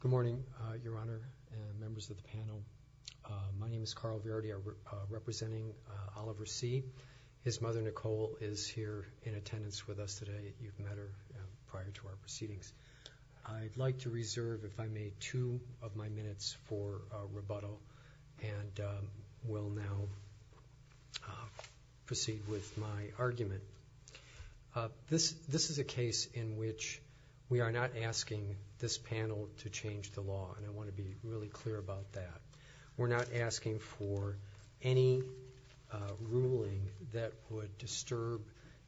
Good morning, Your Honor and members of the panel. My name is Carl Verdi. I'm representing Oliver C. His mother, Nicole, is here in attendance with us today. You've met her prior to our proceedings. I'd like to reserve, if I may, two of my minutes for rebuttal, and will now proceed with my argument. This is a case in which we are not asking this panel to change the law, and I want to be really clear about that. We're not asking for any ruling that would disturb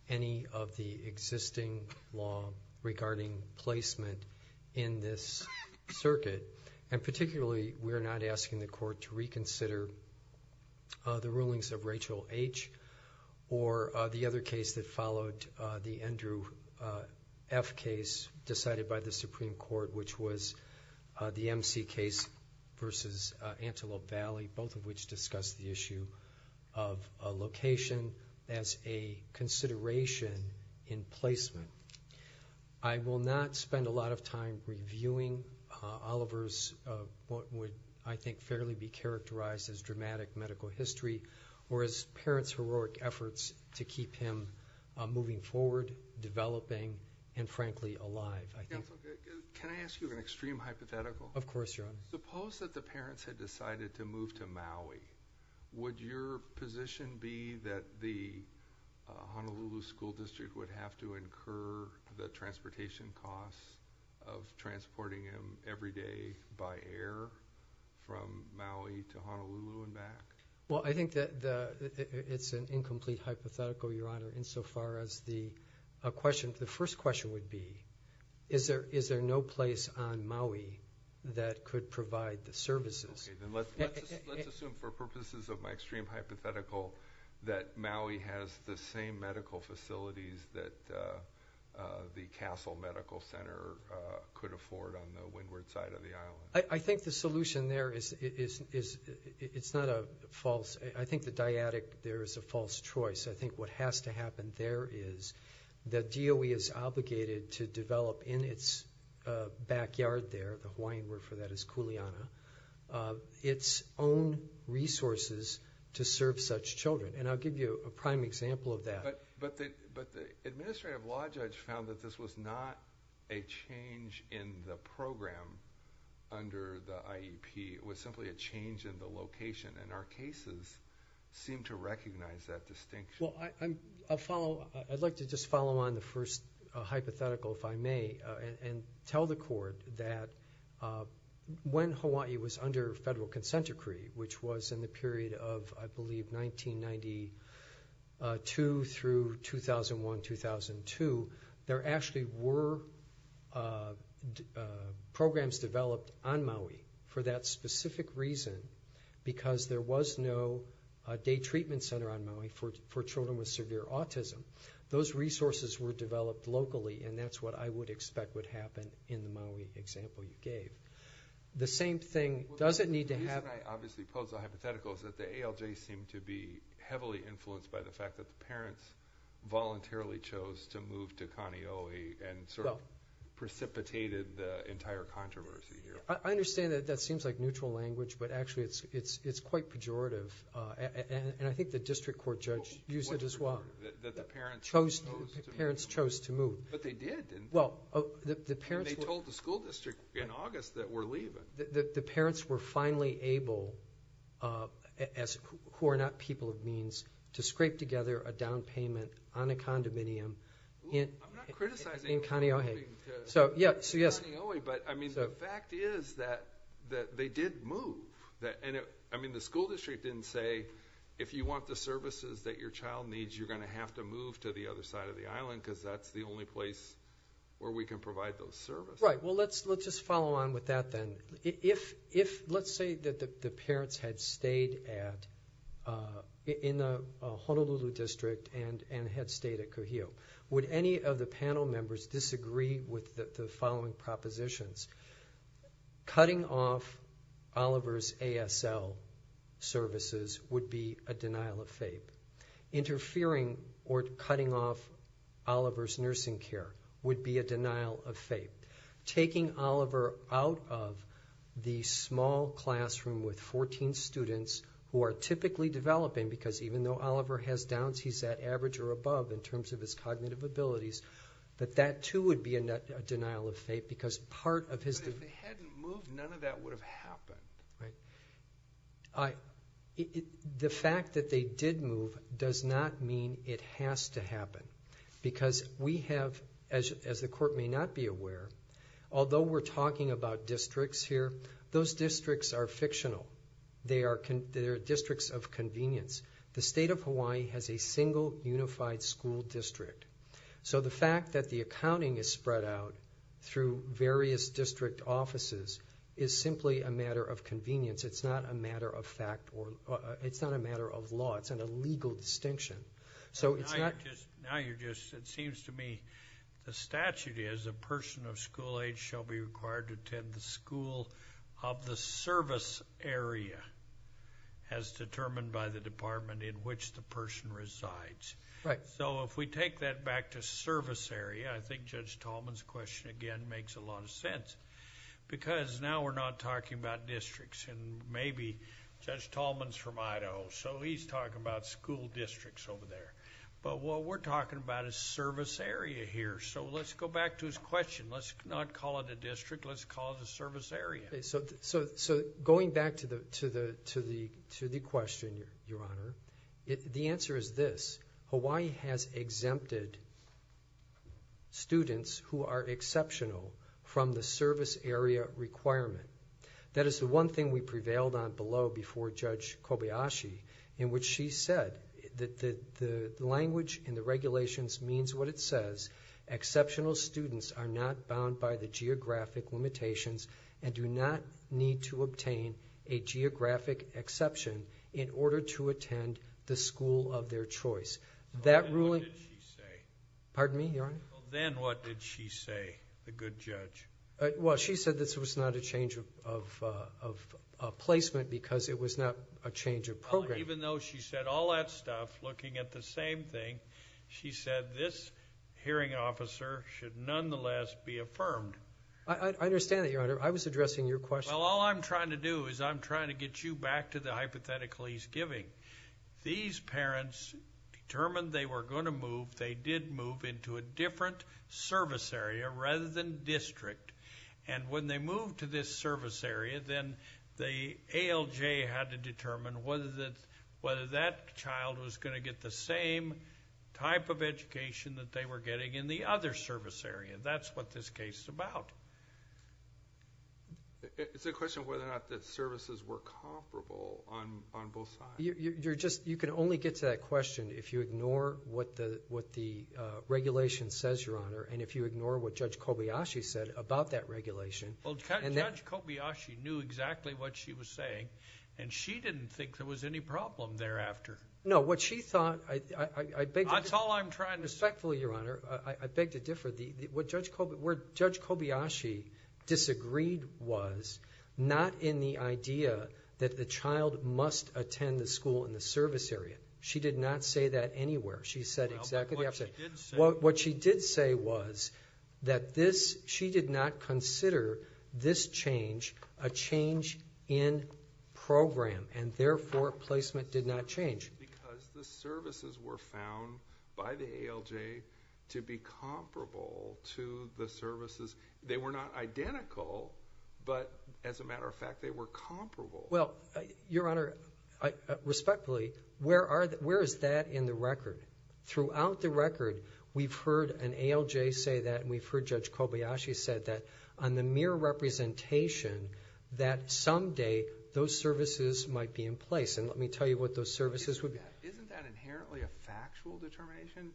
any of the existing law regarding placement in this circuit, and particularly, we're not asking the Court to reconsider the rulings of Rachel H. or the other case that followed the Andrew F. case decided by the Supreme Court, which was the MC case v. Antelope Valley, both of which discussed the issue of location as a consideration in placement. I will not spend a lot of time reviewing Oliver's what would, I think, fairly be characterized as dramatic medical history, or his parents' heroic efforts to keep him moving forward, developing, and frankly, alive, I think. Can I ask you an extreme hypothetical? Of course, Your Honor. Suppose that the parents had decided to move to Maui. Would your position be that the Honolulu School District would have to incur the transportation costs of transporting him every day by air from Maui to Honolulu and back? Well, I think that it's an incomplete hypothetical, Your Honor, insofar as the question, the first question would be, is there no place on Maui that could provide the services? Okay, then let's assume for purposes of my extreme hypothetical that Maui has the same medical facilities that the Castle Medical Center could afford on the windward side of the island. I think the solution there is, it's not a false, I think the dyadic there is a false choice. I think what has to happen there is the DOE is obligated to develop in its backyard there, the Hawaiian word for that is kuleana, its own resources to serve such children. And I'll give you a prime example of that. But the Administrative Law Judge found that this was not a change in the program under the IEP. It was simply a change in the location, and our cases seem to recognize that distinction. I'd like to just follow on the first hypothetical, if I may, and tell the Court that when Hawaii was under federal consent decree, which was in the period of, I believe, 1992 through 2001-2002, there actually were programs developed on Maui for that specific reason, because there was no day treatment center on Maui for children with severe autism. Those resources were developed locally, and that's what I would expect would happen in the Maui example you gave. The same thing, does it need to happen? The reason I obviously closed the hypothetical is that the ALJ seemed to be heavily influenced by the fact that the parents voluntarily chose to move to Kaneohe and sort of precipitated the entire controversy here. I understand that that seems like neutral language, but actually it's quite pejorative. And I think the District Court Judge used it as well, that the parents chose to move. But they did, didn't they? Well, the parents were— And they told the school district in August that we're leaving. The parents were finally able, who are not people of means, to scrape together a down payment on a condominium in Kaneohe. But I mean, the fact is that they did move. I mean, the school district didn't say, if you want the services that your child needs, you're going to have to move to the other side of the island, because that's the only place where we can provide those services. Right. Well, let's just follow on with that then. Let's say that the parents had stayed in the Honolulu District and had stayed at Kuhio. Would any of the panel members disagree with the following propositions? Cutting off Oliver's ASL services would be a denial of faith. Interfering or cutting off Oliver's nursing care would be a denial of faith. Taking Oliver out of the small classroom with 14 students who are typically developing, because even though Oliver has downs, he's at average or above in terms of his cognitive abilities, but that, too, would be a denial of faith, because part of his... But if they hadn't moved, none of that would have happened. The fact that they did move does not mean it has to happen, because we have, as the court may not be aware, although we're talking about districts here, those districts are fictional. They are districts of convenience. The state of Hawaii has a single unified school district. So the fact that the accounting is spread out through various district offices is simply a matter of convenience. It's not a matter of fact or... It's not a matter of law. It's an illegal distinction. So it's not... Now you're just... It seems to me the statute is a person of school age shall be required to attend the school of the service area as determined by the department in which the person resides. So if we take that back to service area, I think Judge Tallman's question again makes a lot of sense, because now we're not talking about districts and maybe... Judge Tallman's from Idaho, so he's talking about school districts over there, but what we're talking about is service area here. So let's go back to his question. Let's not call it a district. Let's call it a service area. So going back to the question, Your Honor, the answer is this. Hawaii has exempted students who are exceptional from the service area requirement. That is the one thing we prevailed on below before Judge Kobayashi, in which she said that the language in the regulations means what it says, exceptional students are not bound by the geographic limitations and do not need to obtain a geographic exception in order to attend the school of their choice. That ruling... Then what did she say? Pardon me, Your Honor? Then what did she say, the good judge? Well, she said this was not a change of placement because it was not a change of program. Even though she said all that stuff, looking at the same thing, she said this hearing officer should nonetheless be affirmed. I understand that, Your Honor. I was addressing your question. Well, all I'm trying to do is I'm trying to get you back to the hypothetical he's giving. These parents determined they were going to move. They did move into a different service area rather than district. And when they moved to this service area, then the ALJ had to determine whether that child was going to get the same type of education that they were getting in the other service area. That's what this case is about. It's a question of whether or not the services were comparable on both sides. You can only get to that question if you ignore what the regulation says, Your Honor, and if you ignore what Judge Kobayashi said about that regulation. Well, Judge Kobayashi knew exactly what she was saying, and she didn't think there was any problem thereafter. No. What she thought... That's all I'm trying to say. Respectfully, Your Honor, I beg to differ. What Judge Kobayashi disagreed was not in the idea that the child must attend the school in the service area. She did not say that anywhere. She said exactly the opposite. Well, but what she did say... What she did say was that this... she did not consider this change a change in program and, therefore, placement did not change. Because the services were found by the ALJ to be comparable to the services. They were not identical, but as a matter of fact, they were comparable. Well, Your Honor, respectfully, where is that in the record? Throughout the record, we've heard an ALJ say that and we've heard Judge Kobayashi say that on the mere representation that someday those services might be in place. And let me tell you what those services would be. Isn't that inherently a factual determination?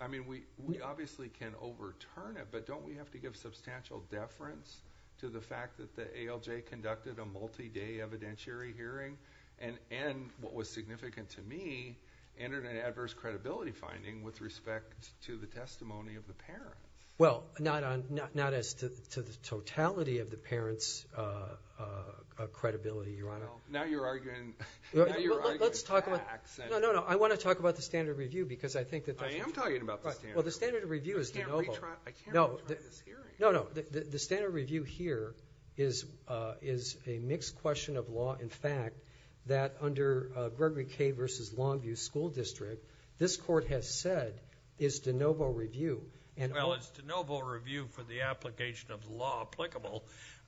I mean, we obviously can overturn it, but don't we have to give substantial deference to the fact that the ALJ conducted a multi-day evidentiary hearing and, what was significant to me, entered an adverse credibility finding with respect to the testimony of the parent? Well, not as to the totality of the parent's credibility, Your Honor. Now you're arguing... Let's talk about... Now you're arguing facts and... No, no, no. I want to talk about the standard of review because I think that that's... I am talking about the standard of review. Well, the standard of review is de novo. I can't retry. I can't retry this hearing. No, no. The standard of review here is a mixed question of law and fact that under Gregory K. v. Longview School District, this court has said is de novo review and... Well, it's de novo review for the application of the law applicable,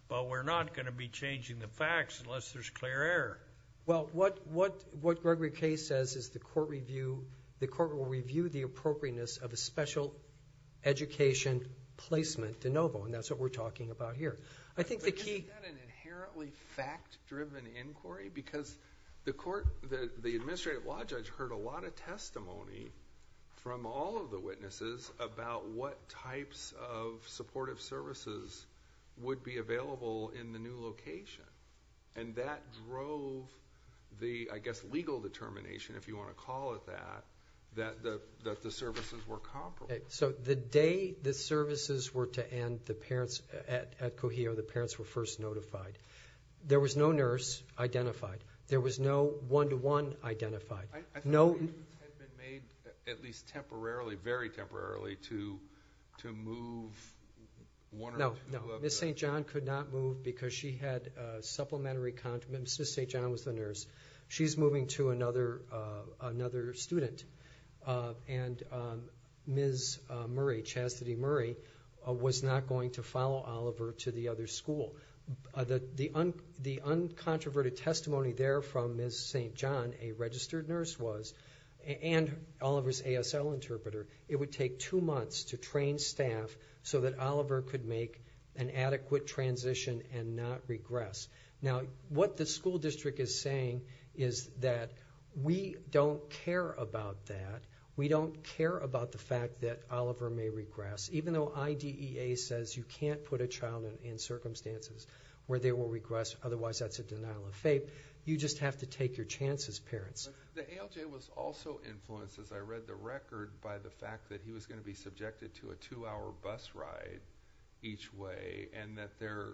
but we're not going to be changing the facts unless there's clear error. Well, what Gregory K. says is the court will review the appropriateness of a special education placement de novo, and that's what we're talking about here. I think the key... Isn't that an inherently fact-driven inquiry? Because the court... the administrative law judge heard a lot of testimony from all of the witnesses about what types of supportive services would be available in the new location, and that drove the, I guess, legal determination, if you want to call it that, that the services were comparable. Okay. So the day the services were to end, the parents... at Cogeo, the parents were first notified. There was no nurse identified. There was no one-to-one identified. I thought you had been made, at least temporarily, very temporarily, to move one or two... No, no. Ms. St. John could not move because she had supplementary... Ms. St. John was the nurse. She's moving to another student, and Ms. Murray, Chastity Murray, was not going to follow Oliver to the other school. The uncontroverted testimony there from Ms. St. John, a registered nurse was, and Oliver's ASL interpreter, it would take two months to train staff so that Oliver could make an adequate transition and not regress. Now, what the school district is saying is that we don't care about that. We don't care about the fact that Oliver may regress, even though IDEA says you can't put a child in circumstances where they will regress, otherwise that's a denial of faith. You just have to take your chances, parents. The ALJ was also influenced, as I read the record, by the fact that he was going to be subjected to a two-hour bus ride each way, and that there...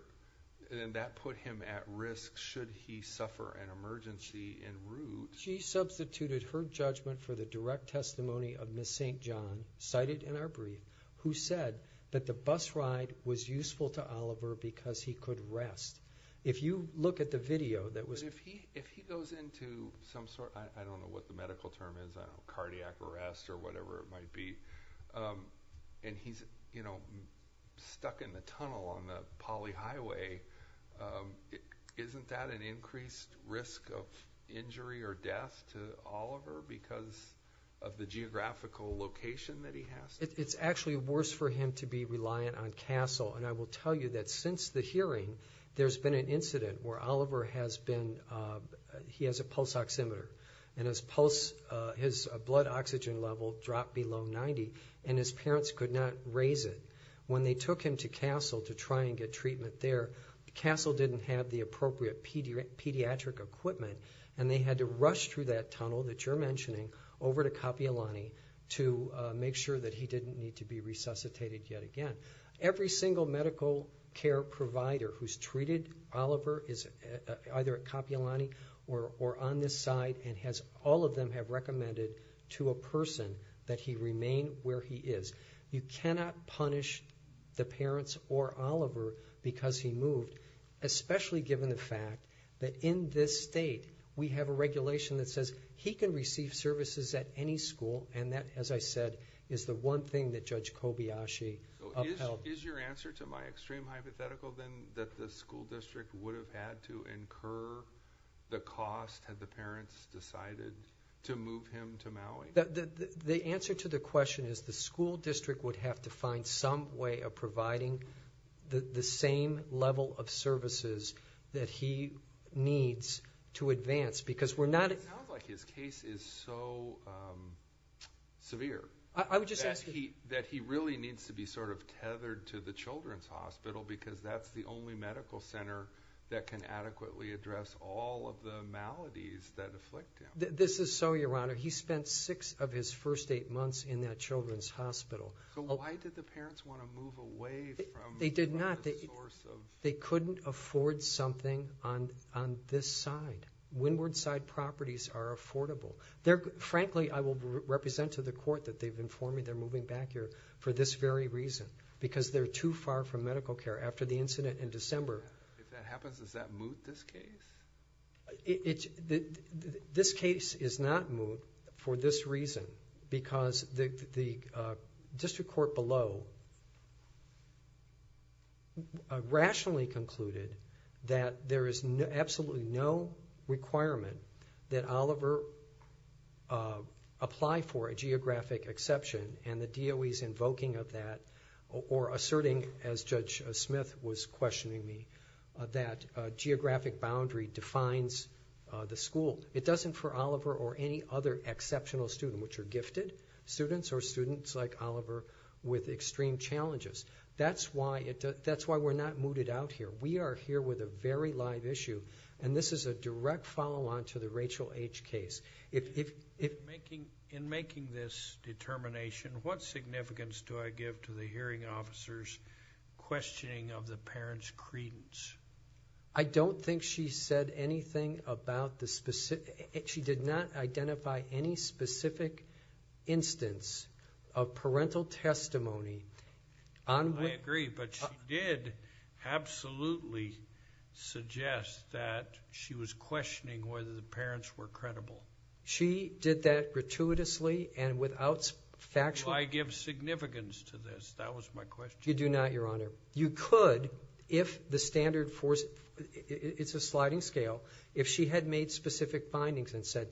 and that put him at risk should he suffer an emergency in Ruth. She substituted her judgment for the direct testimony of Ms. St. John, cited in our brief, who said that the bus ride was useful to Oliver because he could rest. If you look at the video that was... But if he goes into some sort of, I don't know what the medical term is, cardiac arrest or whatever it might be, and he's stuck in the tunnel on the polyhighway, isn't that an increased risk of injury or death to Oliver because of the geographical location that he has? It's actually worse for him to be reliant on CASEL, and I will tell you that since the hearing, there's been an incident where Oliver has been... he has a pulse oximeter, and his pulse... his blood oxygen level dropped below 90, and his parents could not raise it. When they took him to CASEL to try and get treatment there, CASEL didn't have the appropriate pediatric equipment, and they had to rush through that tunnel that you're mentioning over to didn't need to be resuscitated yet again. Every single medical care provider who's treated Oliver is either at Kapi'olani or on this side and has... all of them have recommended to a person that he remain where he is. You cannot punish the parents or Oliver because he moved, especially given the fact that in this state, we have a regulation that says he can receive services at any school, and that, as I said, is the one thing that Judge Kobayashi upheld. Is your answer to my extreme hypothetical then that the school district would have had to incur the cost had the parents decided to move him to Maui? The answer to the question is the school district would have to find some way of providing the same level of services that he needs to advance, because we're not... I would just ask...... that he really needs to be sort of tethered to the children's hospital, because that's the only medical center that can adequately address all of the maladies that afflict him. This is so, Your Honor. He spent six of his first eight months in that children's hospital. So why did the parents want to move away from... They did not.... the source of... They couldn't afford something on this side. Windward side properties are affordable. Frankly, I will represent to the court that they've informed me they're moving back here for this very reason, because they're too far from medical care. After the incident in December... If that happens, does that move this case? This case is not moved for this reason, because the district court below rationally concluded that there is absolutely no requirement that Oliver apply for a geographic exception, and the DOE is invoking of that or asserting, as Judge Smith was questioning me, that geographic boundary defines the school. It doesn't for Oliver or any other exceptional student, which are gifted students or students like Oliver with extreme challenges. That's why we're not mooted out here. We are here with a very live issue, and this is a direct follow-on to the Rachel H. case... In making this determination, what significance do I give to the hearing officer's questioning of the parents' credence? I don't think she said anything about the... She did not identify any specific instance of parental testimony on... I agree, but she did absolutely suggest that she was questioning whether the parents were credible. She did that gratuitously and without factual... Do I give significance to this? That was my question. You do not, Your Honor. You could if the standard... It's a sliding scale. If she had made specific findings and said,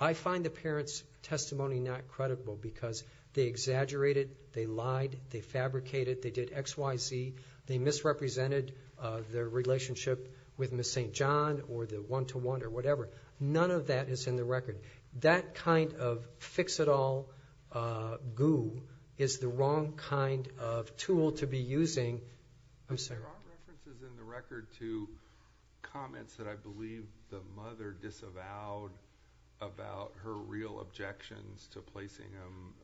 I find the parents' testimony not credible because they exaggerated, they lied, they fabricated, they did X, Y, Z, they misrepresented their relationship with Ms. St. John or the one-to-one or whatever. None of that is in the record. That kind of fix-it-all goo is the wrong kind of tool to be using. I'm sorry. There are references in the record to comments that I believe the mother disavowed about her real objections to placing him...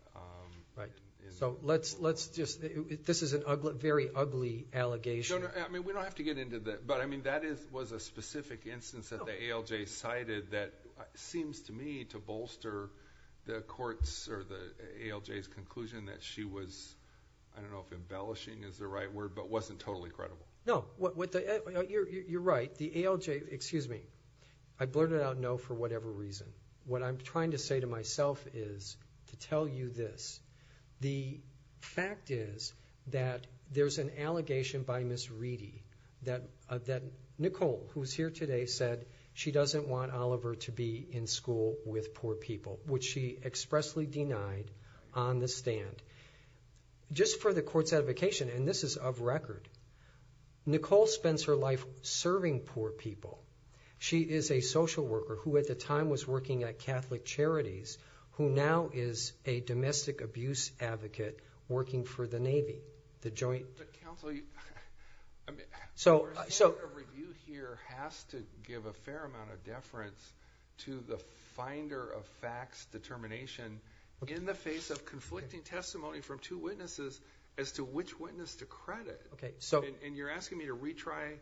This is a very ugly allegation. We don't have to get into that. That was a specific instance that the ALJ cited that seems to me to bolster the ALJ's conclusion that she was, I don't know if embellishing is the right word, but wasn't totally credible. No. You're right. The ALJ... Excuse me. I blurted out no for whatever reason. What I'm trying to say to myself is to tell you this. The fact is that there's an allegation by Ms. Reedy that Nicole, who's here today, said she doesn't want Oliver to be in school with poor people, which she expressly denied on the stand. Just for the court's edification, and this is of record, Nicole spends her life serving poor people. She is a social worker who, at the time, was working at Catholic Charities, who now is a domestic abuse advocate working for the Navy, the joint... Counsel, I mean... So...... whoever you hear has to give a fair amount of deference to the finder of facts determination in the face of conflicting testimony from two witnesses as to which witness to credit. Okay. So... And you're asking me to retry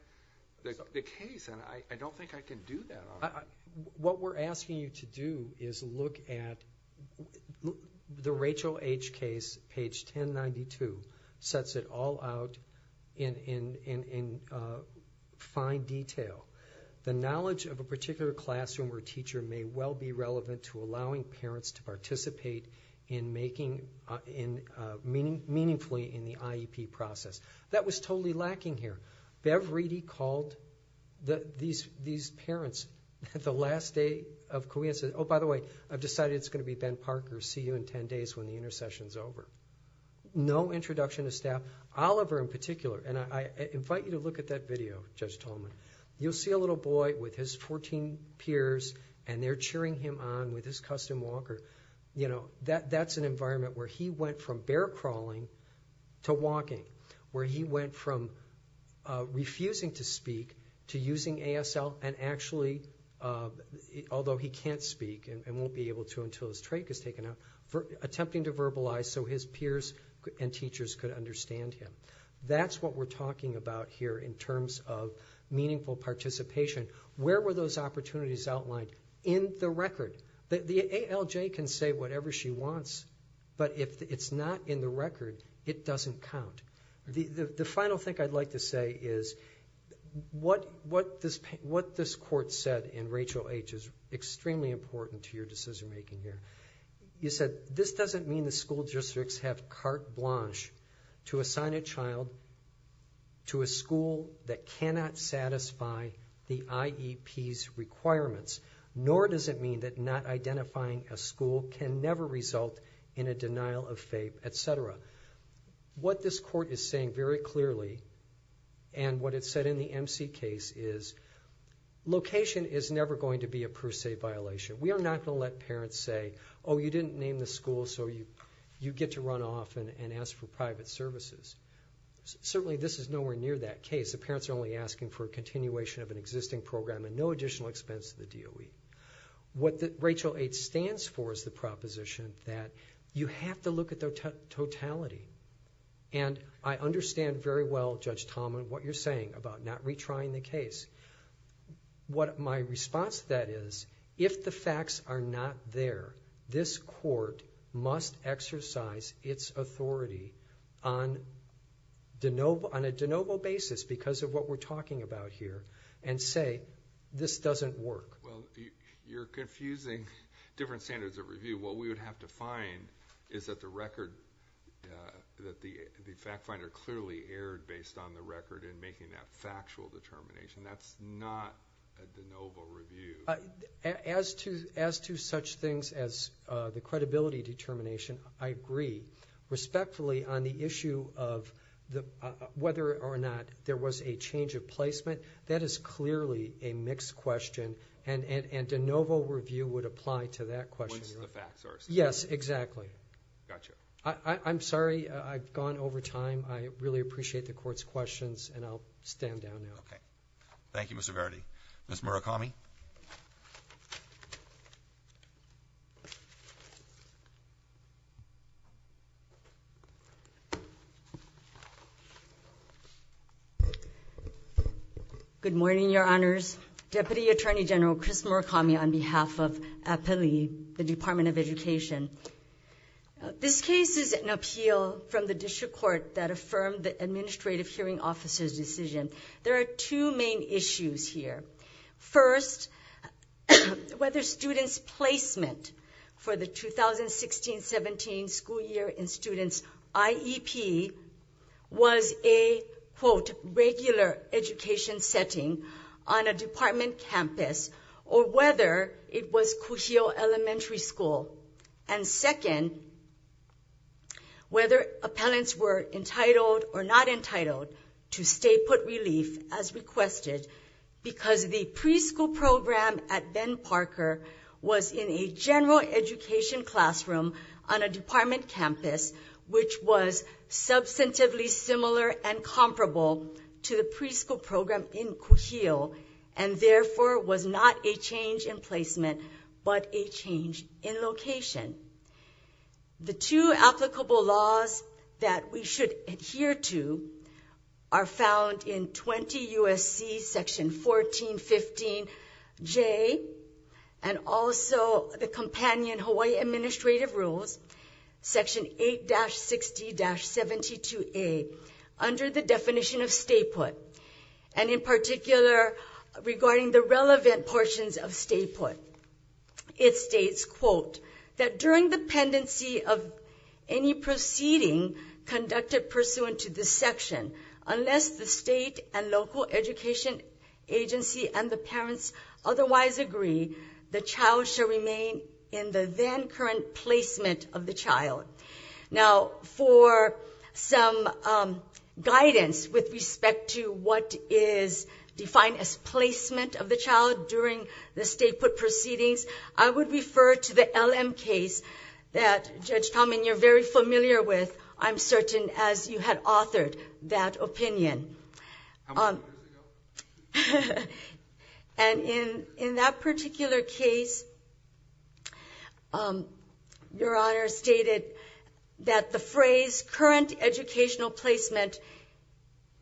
the case. And I don't think I can do that, Oliver. What we're asking you to do is look at... The Rachel H. case, page 1092, sets it all out in fine detail. The knowledge of a particular classroom or teacher may well be relevant to allowing parents to participate in making... meaningfully in the IEP process. That was totally lacking here. Bev Reedy called these parents at the last day of... Oh, by the way, I've decided it's going to be Ben Parker. See you in ten days when the intersession is over. No introduction to staff. Oliver in particular... And I invite you to look at that video, Judge Tolman. You'll see a little boy with his fourteen peers, and they're cheering him on with his custom walker. You know, that's an environment where he went from bear crawling to walking, where he went from refusing to speak to using ASL and actually, although he can't speak and won't be able to until his trach is taken out, attempting to verbalize so his peers and teachers could understand him. That's what we're talking about here in terms of meaningful participation. Where were those opportunities outlined? In the record. The ALJ can say whatever she wants, but if it's not in the record, it doesn't count. The final thing I'd like to say is what this court said in Rachel H. is extremely important to your decision making here. You said, this doesn't mean the school districts have carte blanche to assign a child to a school that cannot satisfy the IEP's requirements, nor does it mean that not identifying a school can never result in a denial of faith, etc. What this court is saying very clearly and what it said in the MC case is location is never going to be a per se violation. We are not going to let parents say, oh, you didn't name the school so you get to run off and ask for private services. Certainly this is nowhere near that case. The parents are only asking for a continuation of an existing program and no additional expense to the DOE. What Rachel H. stands for is the proposition that you have to look at the totality. I understand very well, Judge Tallman, what you're saying about not retrying the case. My response to that is, if the facts are not there, this court must exercise its authority on a de novo basis because of what we're talking about here and say, this doesn't work. Well, you're confusing different standards of review. What we would have to find is that the record, that the fact finder clearly erred based on the record in making that factual determination. That's not a de novo review. As to such things as the credibility determination, I agree respectfully on the issue of whether or not there was a change of placement. That is clearly a mixed question and de novo review would apply to that question. Once the facts are established. Yes, exactly. Got you. I'm sorry I've gone over time. I really appreciate the court's questions and I'll stand down now. Thank you, Mr. Verity. Ms. Murakami? Good morning, your honors. Deputy Attorney General Chris Murakami on behalf of APELI, the Department of Education. This case is an appeal from the district court that affirmed the administrative hearing officer's decision. There are two main issues here. First, whether students' placement for the 2016-17 school year in students' IEP was a quote, regular education setting on a department campus or whether it was Cujillo Elementary School. And second, whether appellants were entitled or not entitled to stay put relief as requested because the preschool program at Ben Parker was in a general education classroom on a department campus, which was substantively similar and comparable to the preschool program in Cujillo and therefore was not a change in placement but a change in location. The two applicable laws that we should adhere to are found in 20 U.S.C. section 1415J and also the companion Hawaii Administrative Rules section 8-60-72A under the definition of stay put. In particular, regarding the relevant portions of stay put, it states, quote, that during the pendency of any proceeding conducted pursuant to this section, unless the state and local education agency and the parents otherwise agree, the child shall remain in the then current placement of the child. Now, for some guidance with respect to what is defined as placement of the child during the stay put proceedings, I would refer to the LM case that Judge Talman, you're very familiar with, I'm certain, as you had authored that opinion. And in that particular case, your honor stated that the phrase current educational placement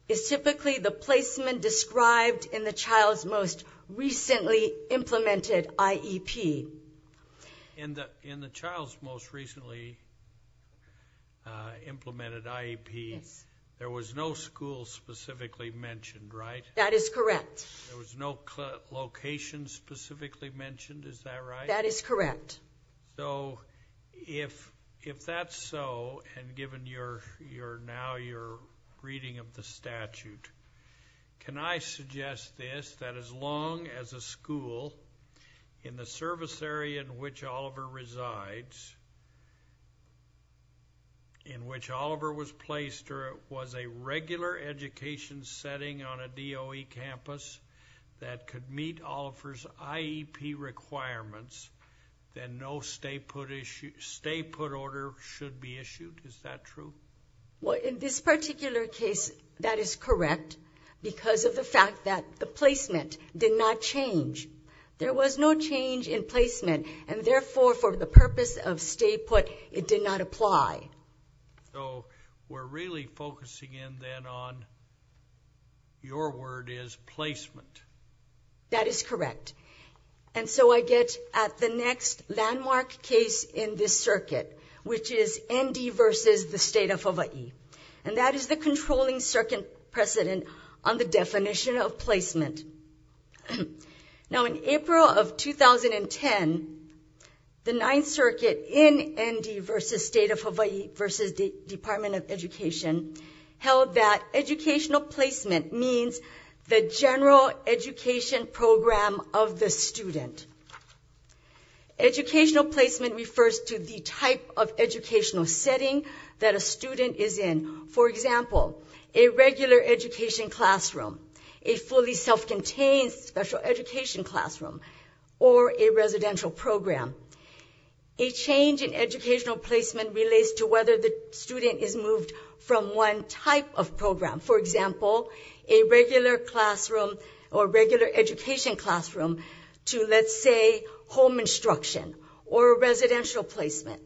is typically the placement described in the child's most recently implemented IEP. In the child's most recently implemented IEP, there was no school specifically mentioned, right? That is correct. There was no location specifically mentioned, is that right? That is correct. So if that's so, and given now your reading of the statute, can I suggest this, that as the service area in which Oliver resides, in which Oliver was placed, or was a regular education setting on a DOE campus that could meet Oliver's IEP requirements, then no stay put order should be issued, is that true? Well, in this particular case, that is correct, because of the fact that the placement did not change. There was no change in placement, and therefore, for the purpose of stay put, it did not apply. So we're really focusing in then on, your word is placement. That is correct. And so I get at the next landmark case in this circuit, which is ND versus the state of Hawaii. And that is the controlling circuit precedent on the definition of placement. Now, in April of 2010, the Ninth Circuit in ND versus State of Hawaii versus the Department of Education held that educational placement means the general education program of the student. Educational placement refers to the type of educational setting that a student is in. For example, a regular education classroom, a fully self-contained special education classroom, or a residential program. A change in educational placement relates to whether the student is moved from one type of program. For example, a regular classroom or regular education classroom to, let's say, home instruction or a residential placement.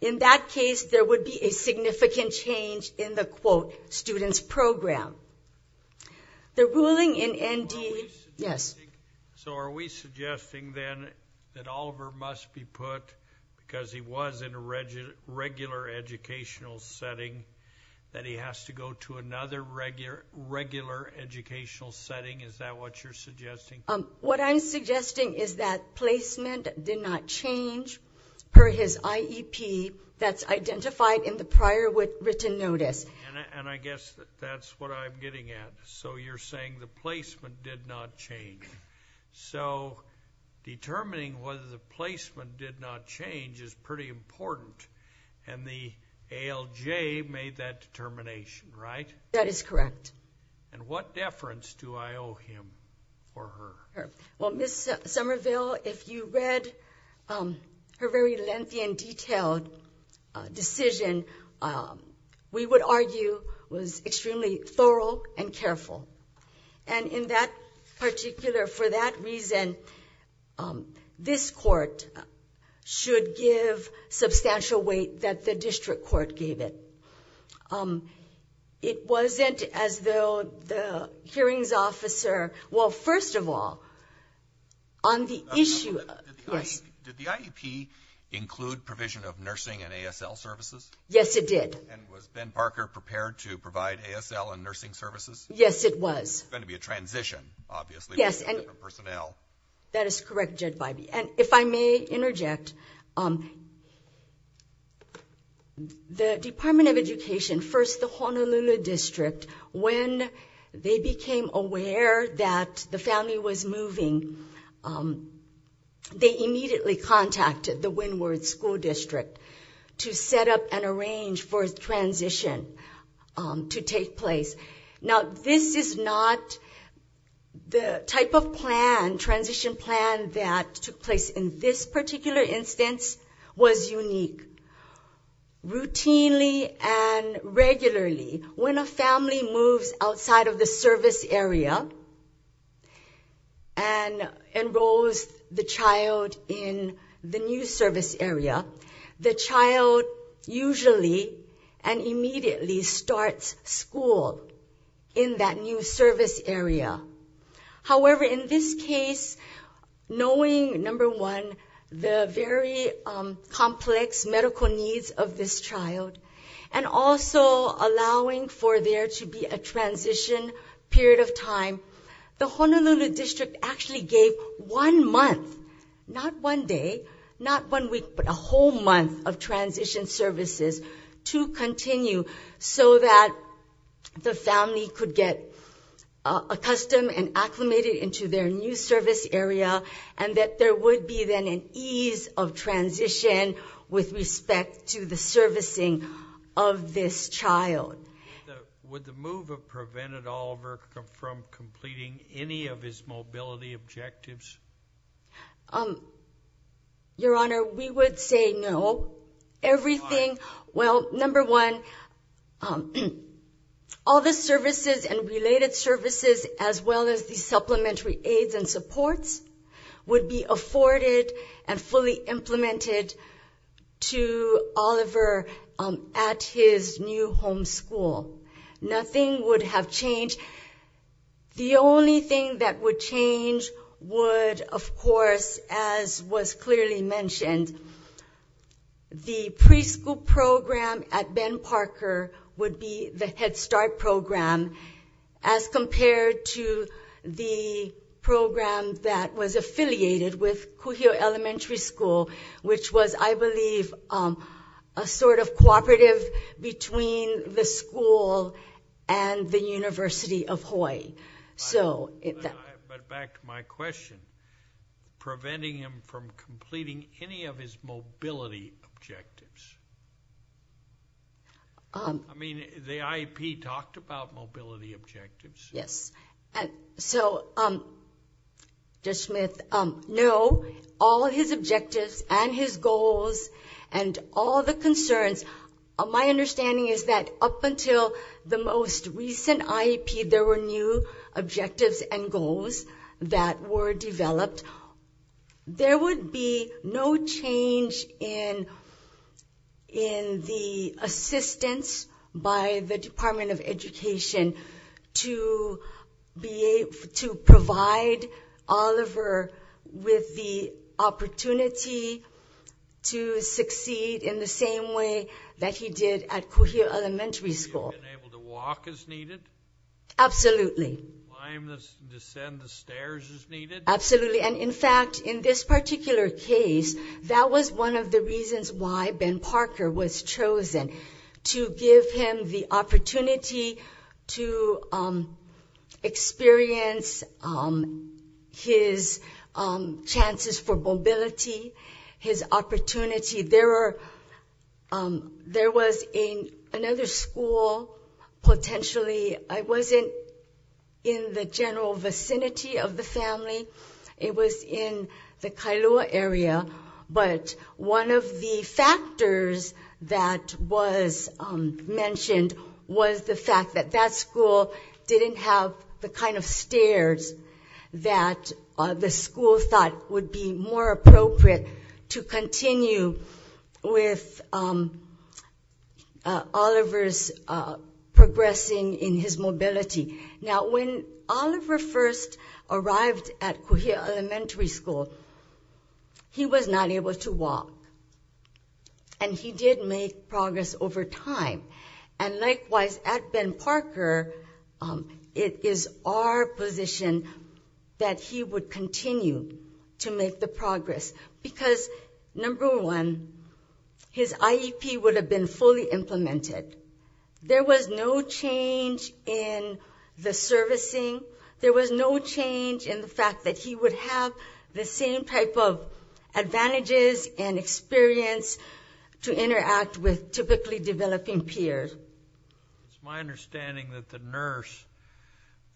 In that case, there would be a significant change in the, quote, student's program. The ruling in ND, yes? So are we suggesting then that Oliver must be put, because he was in a regular educational setting, that he has to go to another regular educational setting? Is that what you're suggesting? What I'm suggesting is that placement did not change per his IEP that's identified in the prior written notice. And I guess that's what I'm getting at. So you're saying the placement did not change. So determining whether the placement did not change is pretty important. And the ALJ made that determination, right? That is correct. And what deference do I owe him or her? Well, Ms. Somerville, if you read her very lengthy and detailed decision, we would argue was extremely thorough and careful. And in that particular, for that reason, this court should give substantial weight that the district court gave it. It wasn't as though the hearings officer, well, first of all, on the issue, yes? Did the IEP include provision of nursing and ASL services? Yes, it did. And was Ben Parker prepared to provide ASL and nursing services? Yes, it was. It's going to be a transition, obviously, with different personnel. That is correct, Jed Bybee. If I may interject, the Department of Education, first the Honolulu District, when they became aware that the family was moving, they immediately contacted the Windward School District to set up and arrange for a transition to take place. Now, this is not the type of plan, transition plan that took place in this particular instance was unique. Routinely and regularly, when a family moves outside of the service area and enrolls the in that new service area. However, in this case, knowing, number one, the very complex medical needs of this child and also allowing for there to be a transition period of time, the Honolulu District actually gave one month, not one day, not one week, but a whole month of transition services to continue so that the family could get accustomed and acclimated into their new service area and that there would be then an ease of transition with respect to the servicing of this child. Would the move have prevented Oliver from completing any of his mobility objectives? Your Honor, we would say no. Everything, well, number one, all the services and related services as well as the supplementary aids and supports would be afforded and fully implemented to Oliver at his new home school. Nothing would have changed. The only thing that would change would, of course, as was clearly mentioned, the preschool program at Ben Parker would be the Head Start program as compared to the program that was affiliated with Kuhio Elementary School, which was, I believe, a sort of cooperative between the school and the University of Hawaii. But back to my question, preventing him from completing any of his mobility objectives? I mean, the IEP talked about mobility objectives. Yes. So, Judge Smith, no, all his objectives and his goals and all the concerns, my understanding is that up until the most recent IEP, there were new objectives and goals that were developed. There would be no change in the assistance by the Department of Education to provide Oliver with the opportunity to succeed in the same way that he did at Kuhio Elementary School. Being able to walk as needed? Absolutely. Climb and descend the stairs as needed? Absolutely, and in fact, in this particular case, that was one of the reasons why Ben had the opportunity to experience his chances for mobility, his opportunity. There was another school, potentially, it wasn't in the general vicinity of the family, it was in the Kailua area, but one of the factors that was mentioned was the fact that that school didn't have the kind of stairs that the school thought would be more appropriate to continue with Oliver's progressing in his mobility. Now, when Oliver first arrived at Kuhio Elementary School, he was not able to walk, and he did make progress over time. And likewise, at Ben Parker, it is our position that he would continue to make the progress because, number one, his IEP would have been fully implemented. There was no change in the servicing. There was no change in the fact that he would have the same type of advantages and experience to interact with typically developing peers. It's my understanding that the nurse,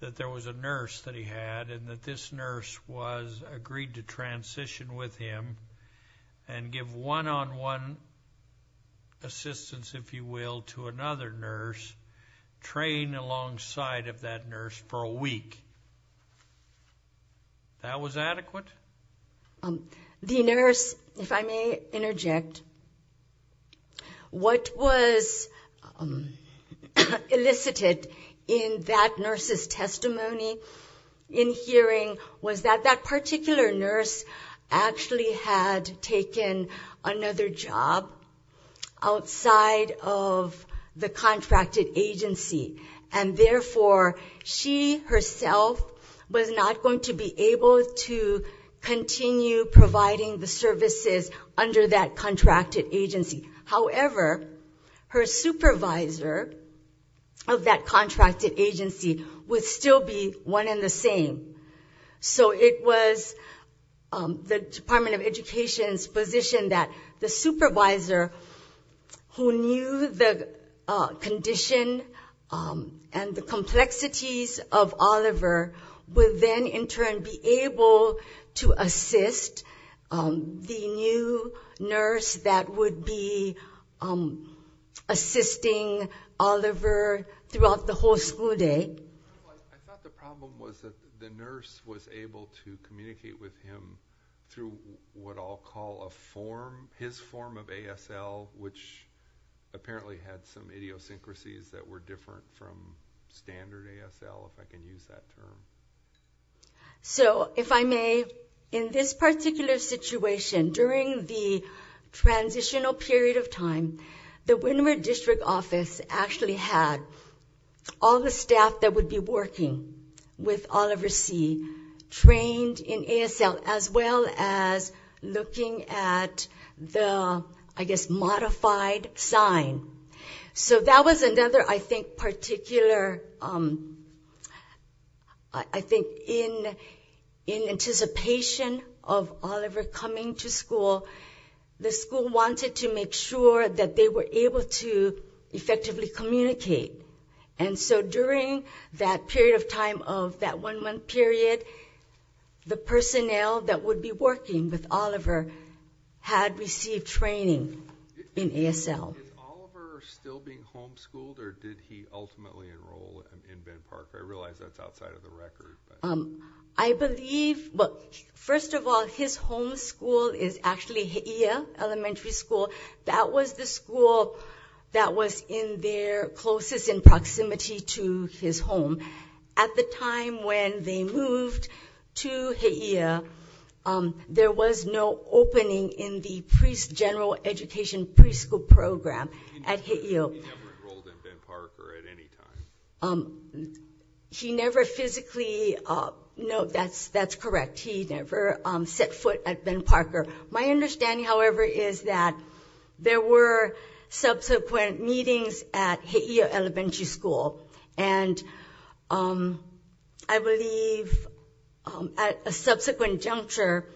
that there was a nurse that he had, and that this nurse was agreed to transition with him and give one-on-one assistance, if you will, to another nurse, train alongside of that nurse for a week. That was adequate? The nurse, if I may interject, what was elicited in that nurse's testimony in hearing was that that particular nurse actually had taken another job outside of the contracted agency. And therefore, she herself was not going to be able to continue providing the services under that contracted agency. However, her supervisor of that contracted agency would still be one and the same. So it was the Department of Education's position that the supervisor who knew the condition and the complexities of Oliver would then, in turn, be able to assist the new nurse that would be assisting Oliver throughout the whole school day. I thought the problem was that the nurse was able to communicate with him through what I'll call a form, his form of ASL, which apparently had some idiosyncrasies that were different from standard ASL, if I can use that term. So, if I may, in this particular situation, during the transitional period of time, the Windward District Office actually had all the staff that would be working with Oliver C. trained in ASL, as well as looking at the, I guess, modified sign. So that was another, I think, particular, I think, in anticipation of Oliver coming to school, the school wanted to make sure that they were able to effectively communicate. And so during that period of time of that one-month period, the personnel that would be working with Oliver had received training in ASL. Is Oliver still being homeschooled, or did he ultimately enroll in Bend Park? I realize that's outside of the record. I believe, well, first of all, his home school is actually He'eia Elementary School. That was the school that was in their closest in proximity to his home. At the time when they moved to He'eia, there was no opening in the general education preschool program at He'eia. He never enrolled in Bend Park or at any time? He never physically? No, that's correct. He never set foot at Bend Park. My understanding, however, is that there were subsequent meetings at He'eia Elementary School. And I believe at a subsequent juncture,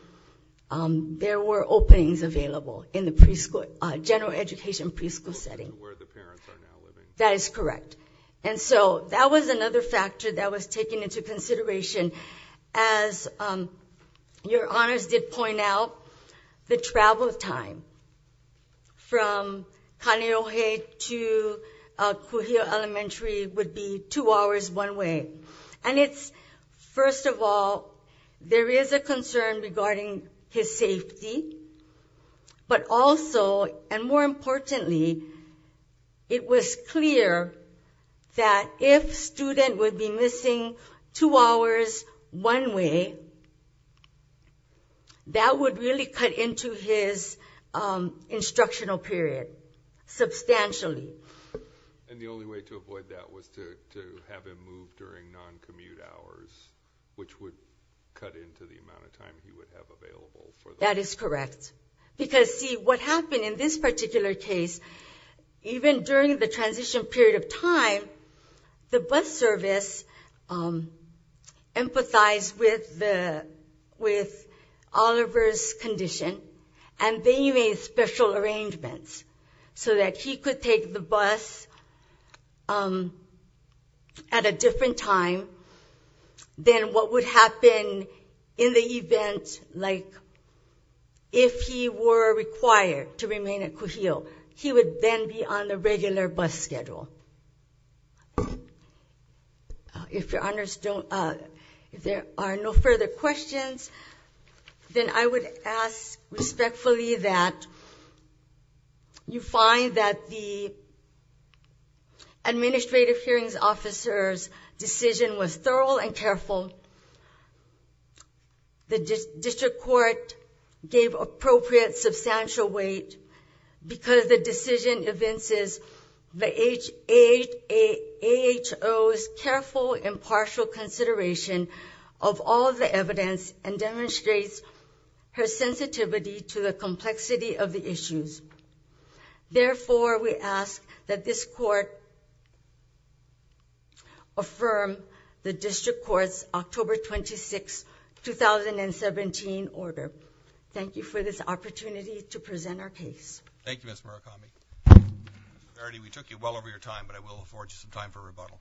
there were openings available in the general education preschool setting. Where the parents are now living. That is correct. And so that was another factor that was taken into consideration. As your honors did point out, the travel time from Kaneohe to Kuhio Elementary would be two hours one way. And it's, first of all, there is a concern regarding his safety. But also, and more importantly, it was clear that if a student would be missing two hours one way, that would really cut into his instructional period substantially. And the only way to avoid that was to have him move during non-commute hours, which would cut into the amount of time he would have available. That is correct. Because see, what happened in this particular case, even during the transition period of time, the bus service empathized with Oliver's condition. And they made special arrangements. So that he could take the bus at a different time than what would happen in the event, like if he were required to remain at Kuhio. He would then be on the regular bus schedule. If your honors don't, if there are no further questions, then I would ask respectfully that you find that the administrative hearings officer's decision was thorough and careful. The district court gave appropriate substantial weight because the decision evinces the AHO's careful, impartial consideration of all the evidence and demonstrates her sensitivity to the complexity of the issues. Therefore, we ask that this court affirm the district court's October 26, 2017 order. Thank you for this opportunity to present our case. Thank you, Ms. Murakami. Mr. Verity, we took you well over your time, but I will afford you some time for rebuttal.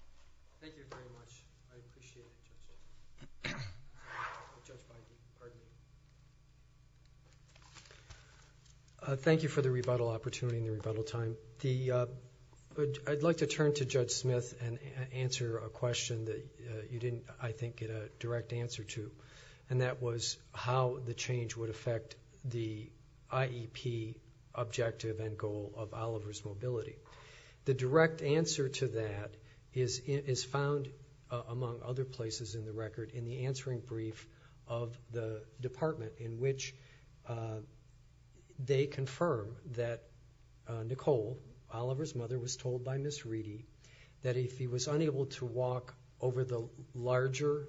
Thank you very much. I appreciate it. Thank you for the rebuttal opportunity and the rebuttal time. I'd like to turn to Judge Smith and answer a question that you didn't, I think, get a direct answer to, and that was how the change would affect the IEP objective and goal of Oliver's Mobility. The direct answer to that is found, among other places in the record, in the answering brief of the department in which they confirm that Nicole, Oliver's mother, was told by Ms. Reedy that if he was unable to walk over the larger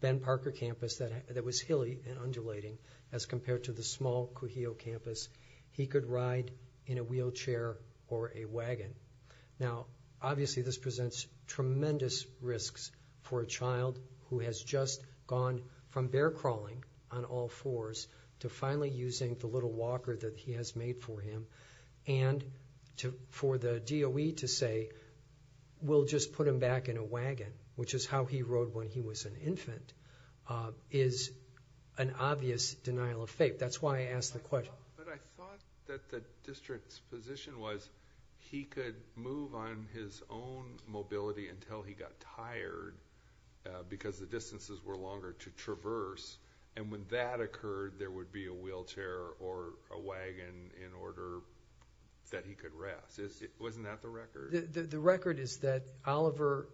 Ben Parker campus that was hilly and undulating as compared to the small Cujillo campus, he could ride in a wheelchair or a wagon. Now, obviously, this presents tremendous risks for a child who has just gone from bear crawling on all fours to finally using the little walker that he has made for him, and for the DOE to say, we'll just put him back in a wagon, which is how he rode when he was an infant, is an obvious denial of faith. That's why I asked the question. But I thought that the district's position was that he could move on his own mobility until he got tired because the distances were longer to traverse, and when that occurred, there would be a wheelchair or a wagon in order that he could rest. Wasn't that the record? The record is that Oliver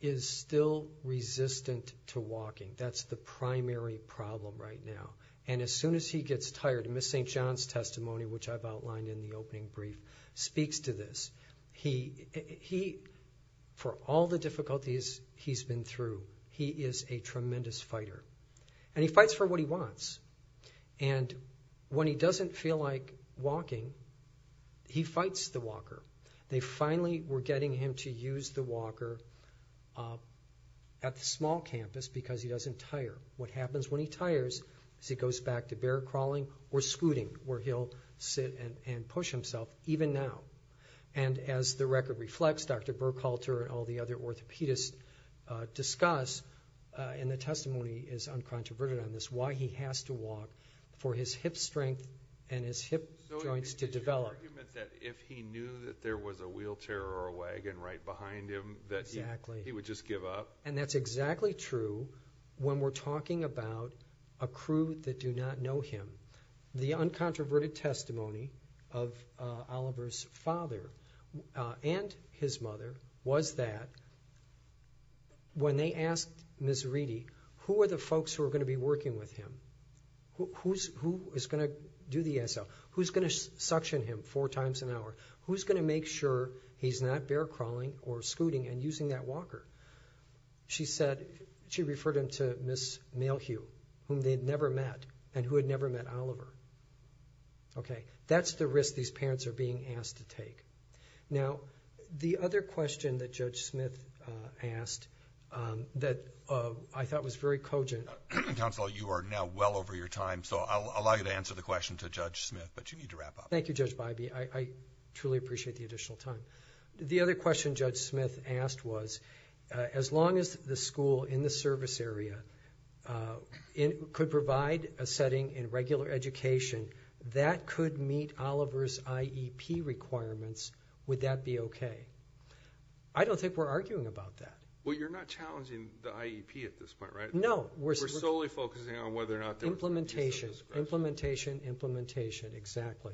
is still resistant to walking. That's the primary problem right now. And as soon as he gets tired, in Ms. St. John's testimony, which I've outlined in the opening brief, speaks to this. He, for all the difficulties he's been through, he is a tremendous fighter. And he fights for what he wants. And when he doesn't feel like walking, he fights the walker. They finally were getting him to use the walker at the small campus because he doesn't tire. What happens when he tires is he goes back to bear crawling or scooting, where he'll sit and push himself, even now. And as the record reflects, Dr. Burkhalter and all the other orthopedists discuss, and the testimony is uncontroverted on this, why he has to walk for his hip strength and his hip joints to develop. So is it your argument that if he knew that there was a wheelchair or a wagon right behind him, that he would just give up? And that's exactly true when we're talking about a crew that do not know him. The uncontroverted testimony of Oliver's father and his mother was that when they asked Ms. Reedy who are the folks who are going to be working with him, who is going to do the SL, who's going to suction him 4 times an hour, who's going to make sure he's not bear crawling or scooting and using that walker? She said, she referred him to Ms. Malehue, whom they'd never met and who had never met Oliver. Okay, that's the risk these parents are being asked to take. Now, the other question that Judge Smith asked that I thought was very cogent... Counsel, you are now well over your time, so I'll allow you to answer the question to Judge Smith, but you need to wrap up. Thank you, Judge Bybee. I truly appreciate the additional time. The other question Judge Smith asked was, as long as the school in the service area could provide a setting in regular education that could meet Oliver's IEP requirements, would that be okay? I don't think we're arguing about that. Well, you're not challenging the IEP at this point, right? No. We're solely focusing on whether or not... Implementation, implementation, implementation, exactly.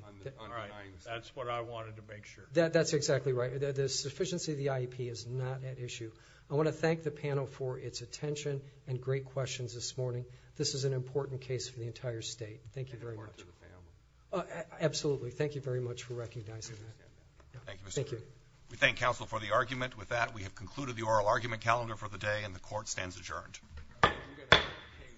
That's what I wanted to make sure. That's exactly right. The sufficiency of the IEP is not at issue. I want to thank the panel for its attention and great questions this morning. This is an important case for the entire state. Thank you very much. Absolutely. Thank you very much for recognizing that. Thank you. We thank counsel for the argument. With that, we have concluded the oral argument calendar for the day, and the court stands adjourned.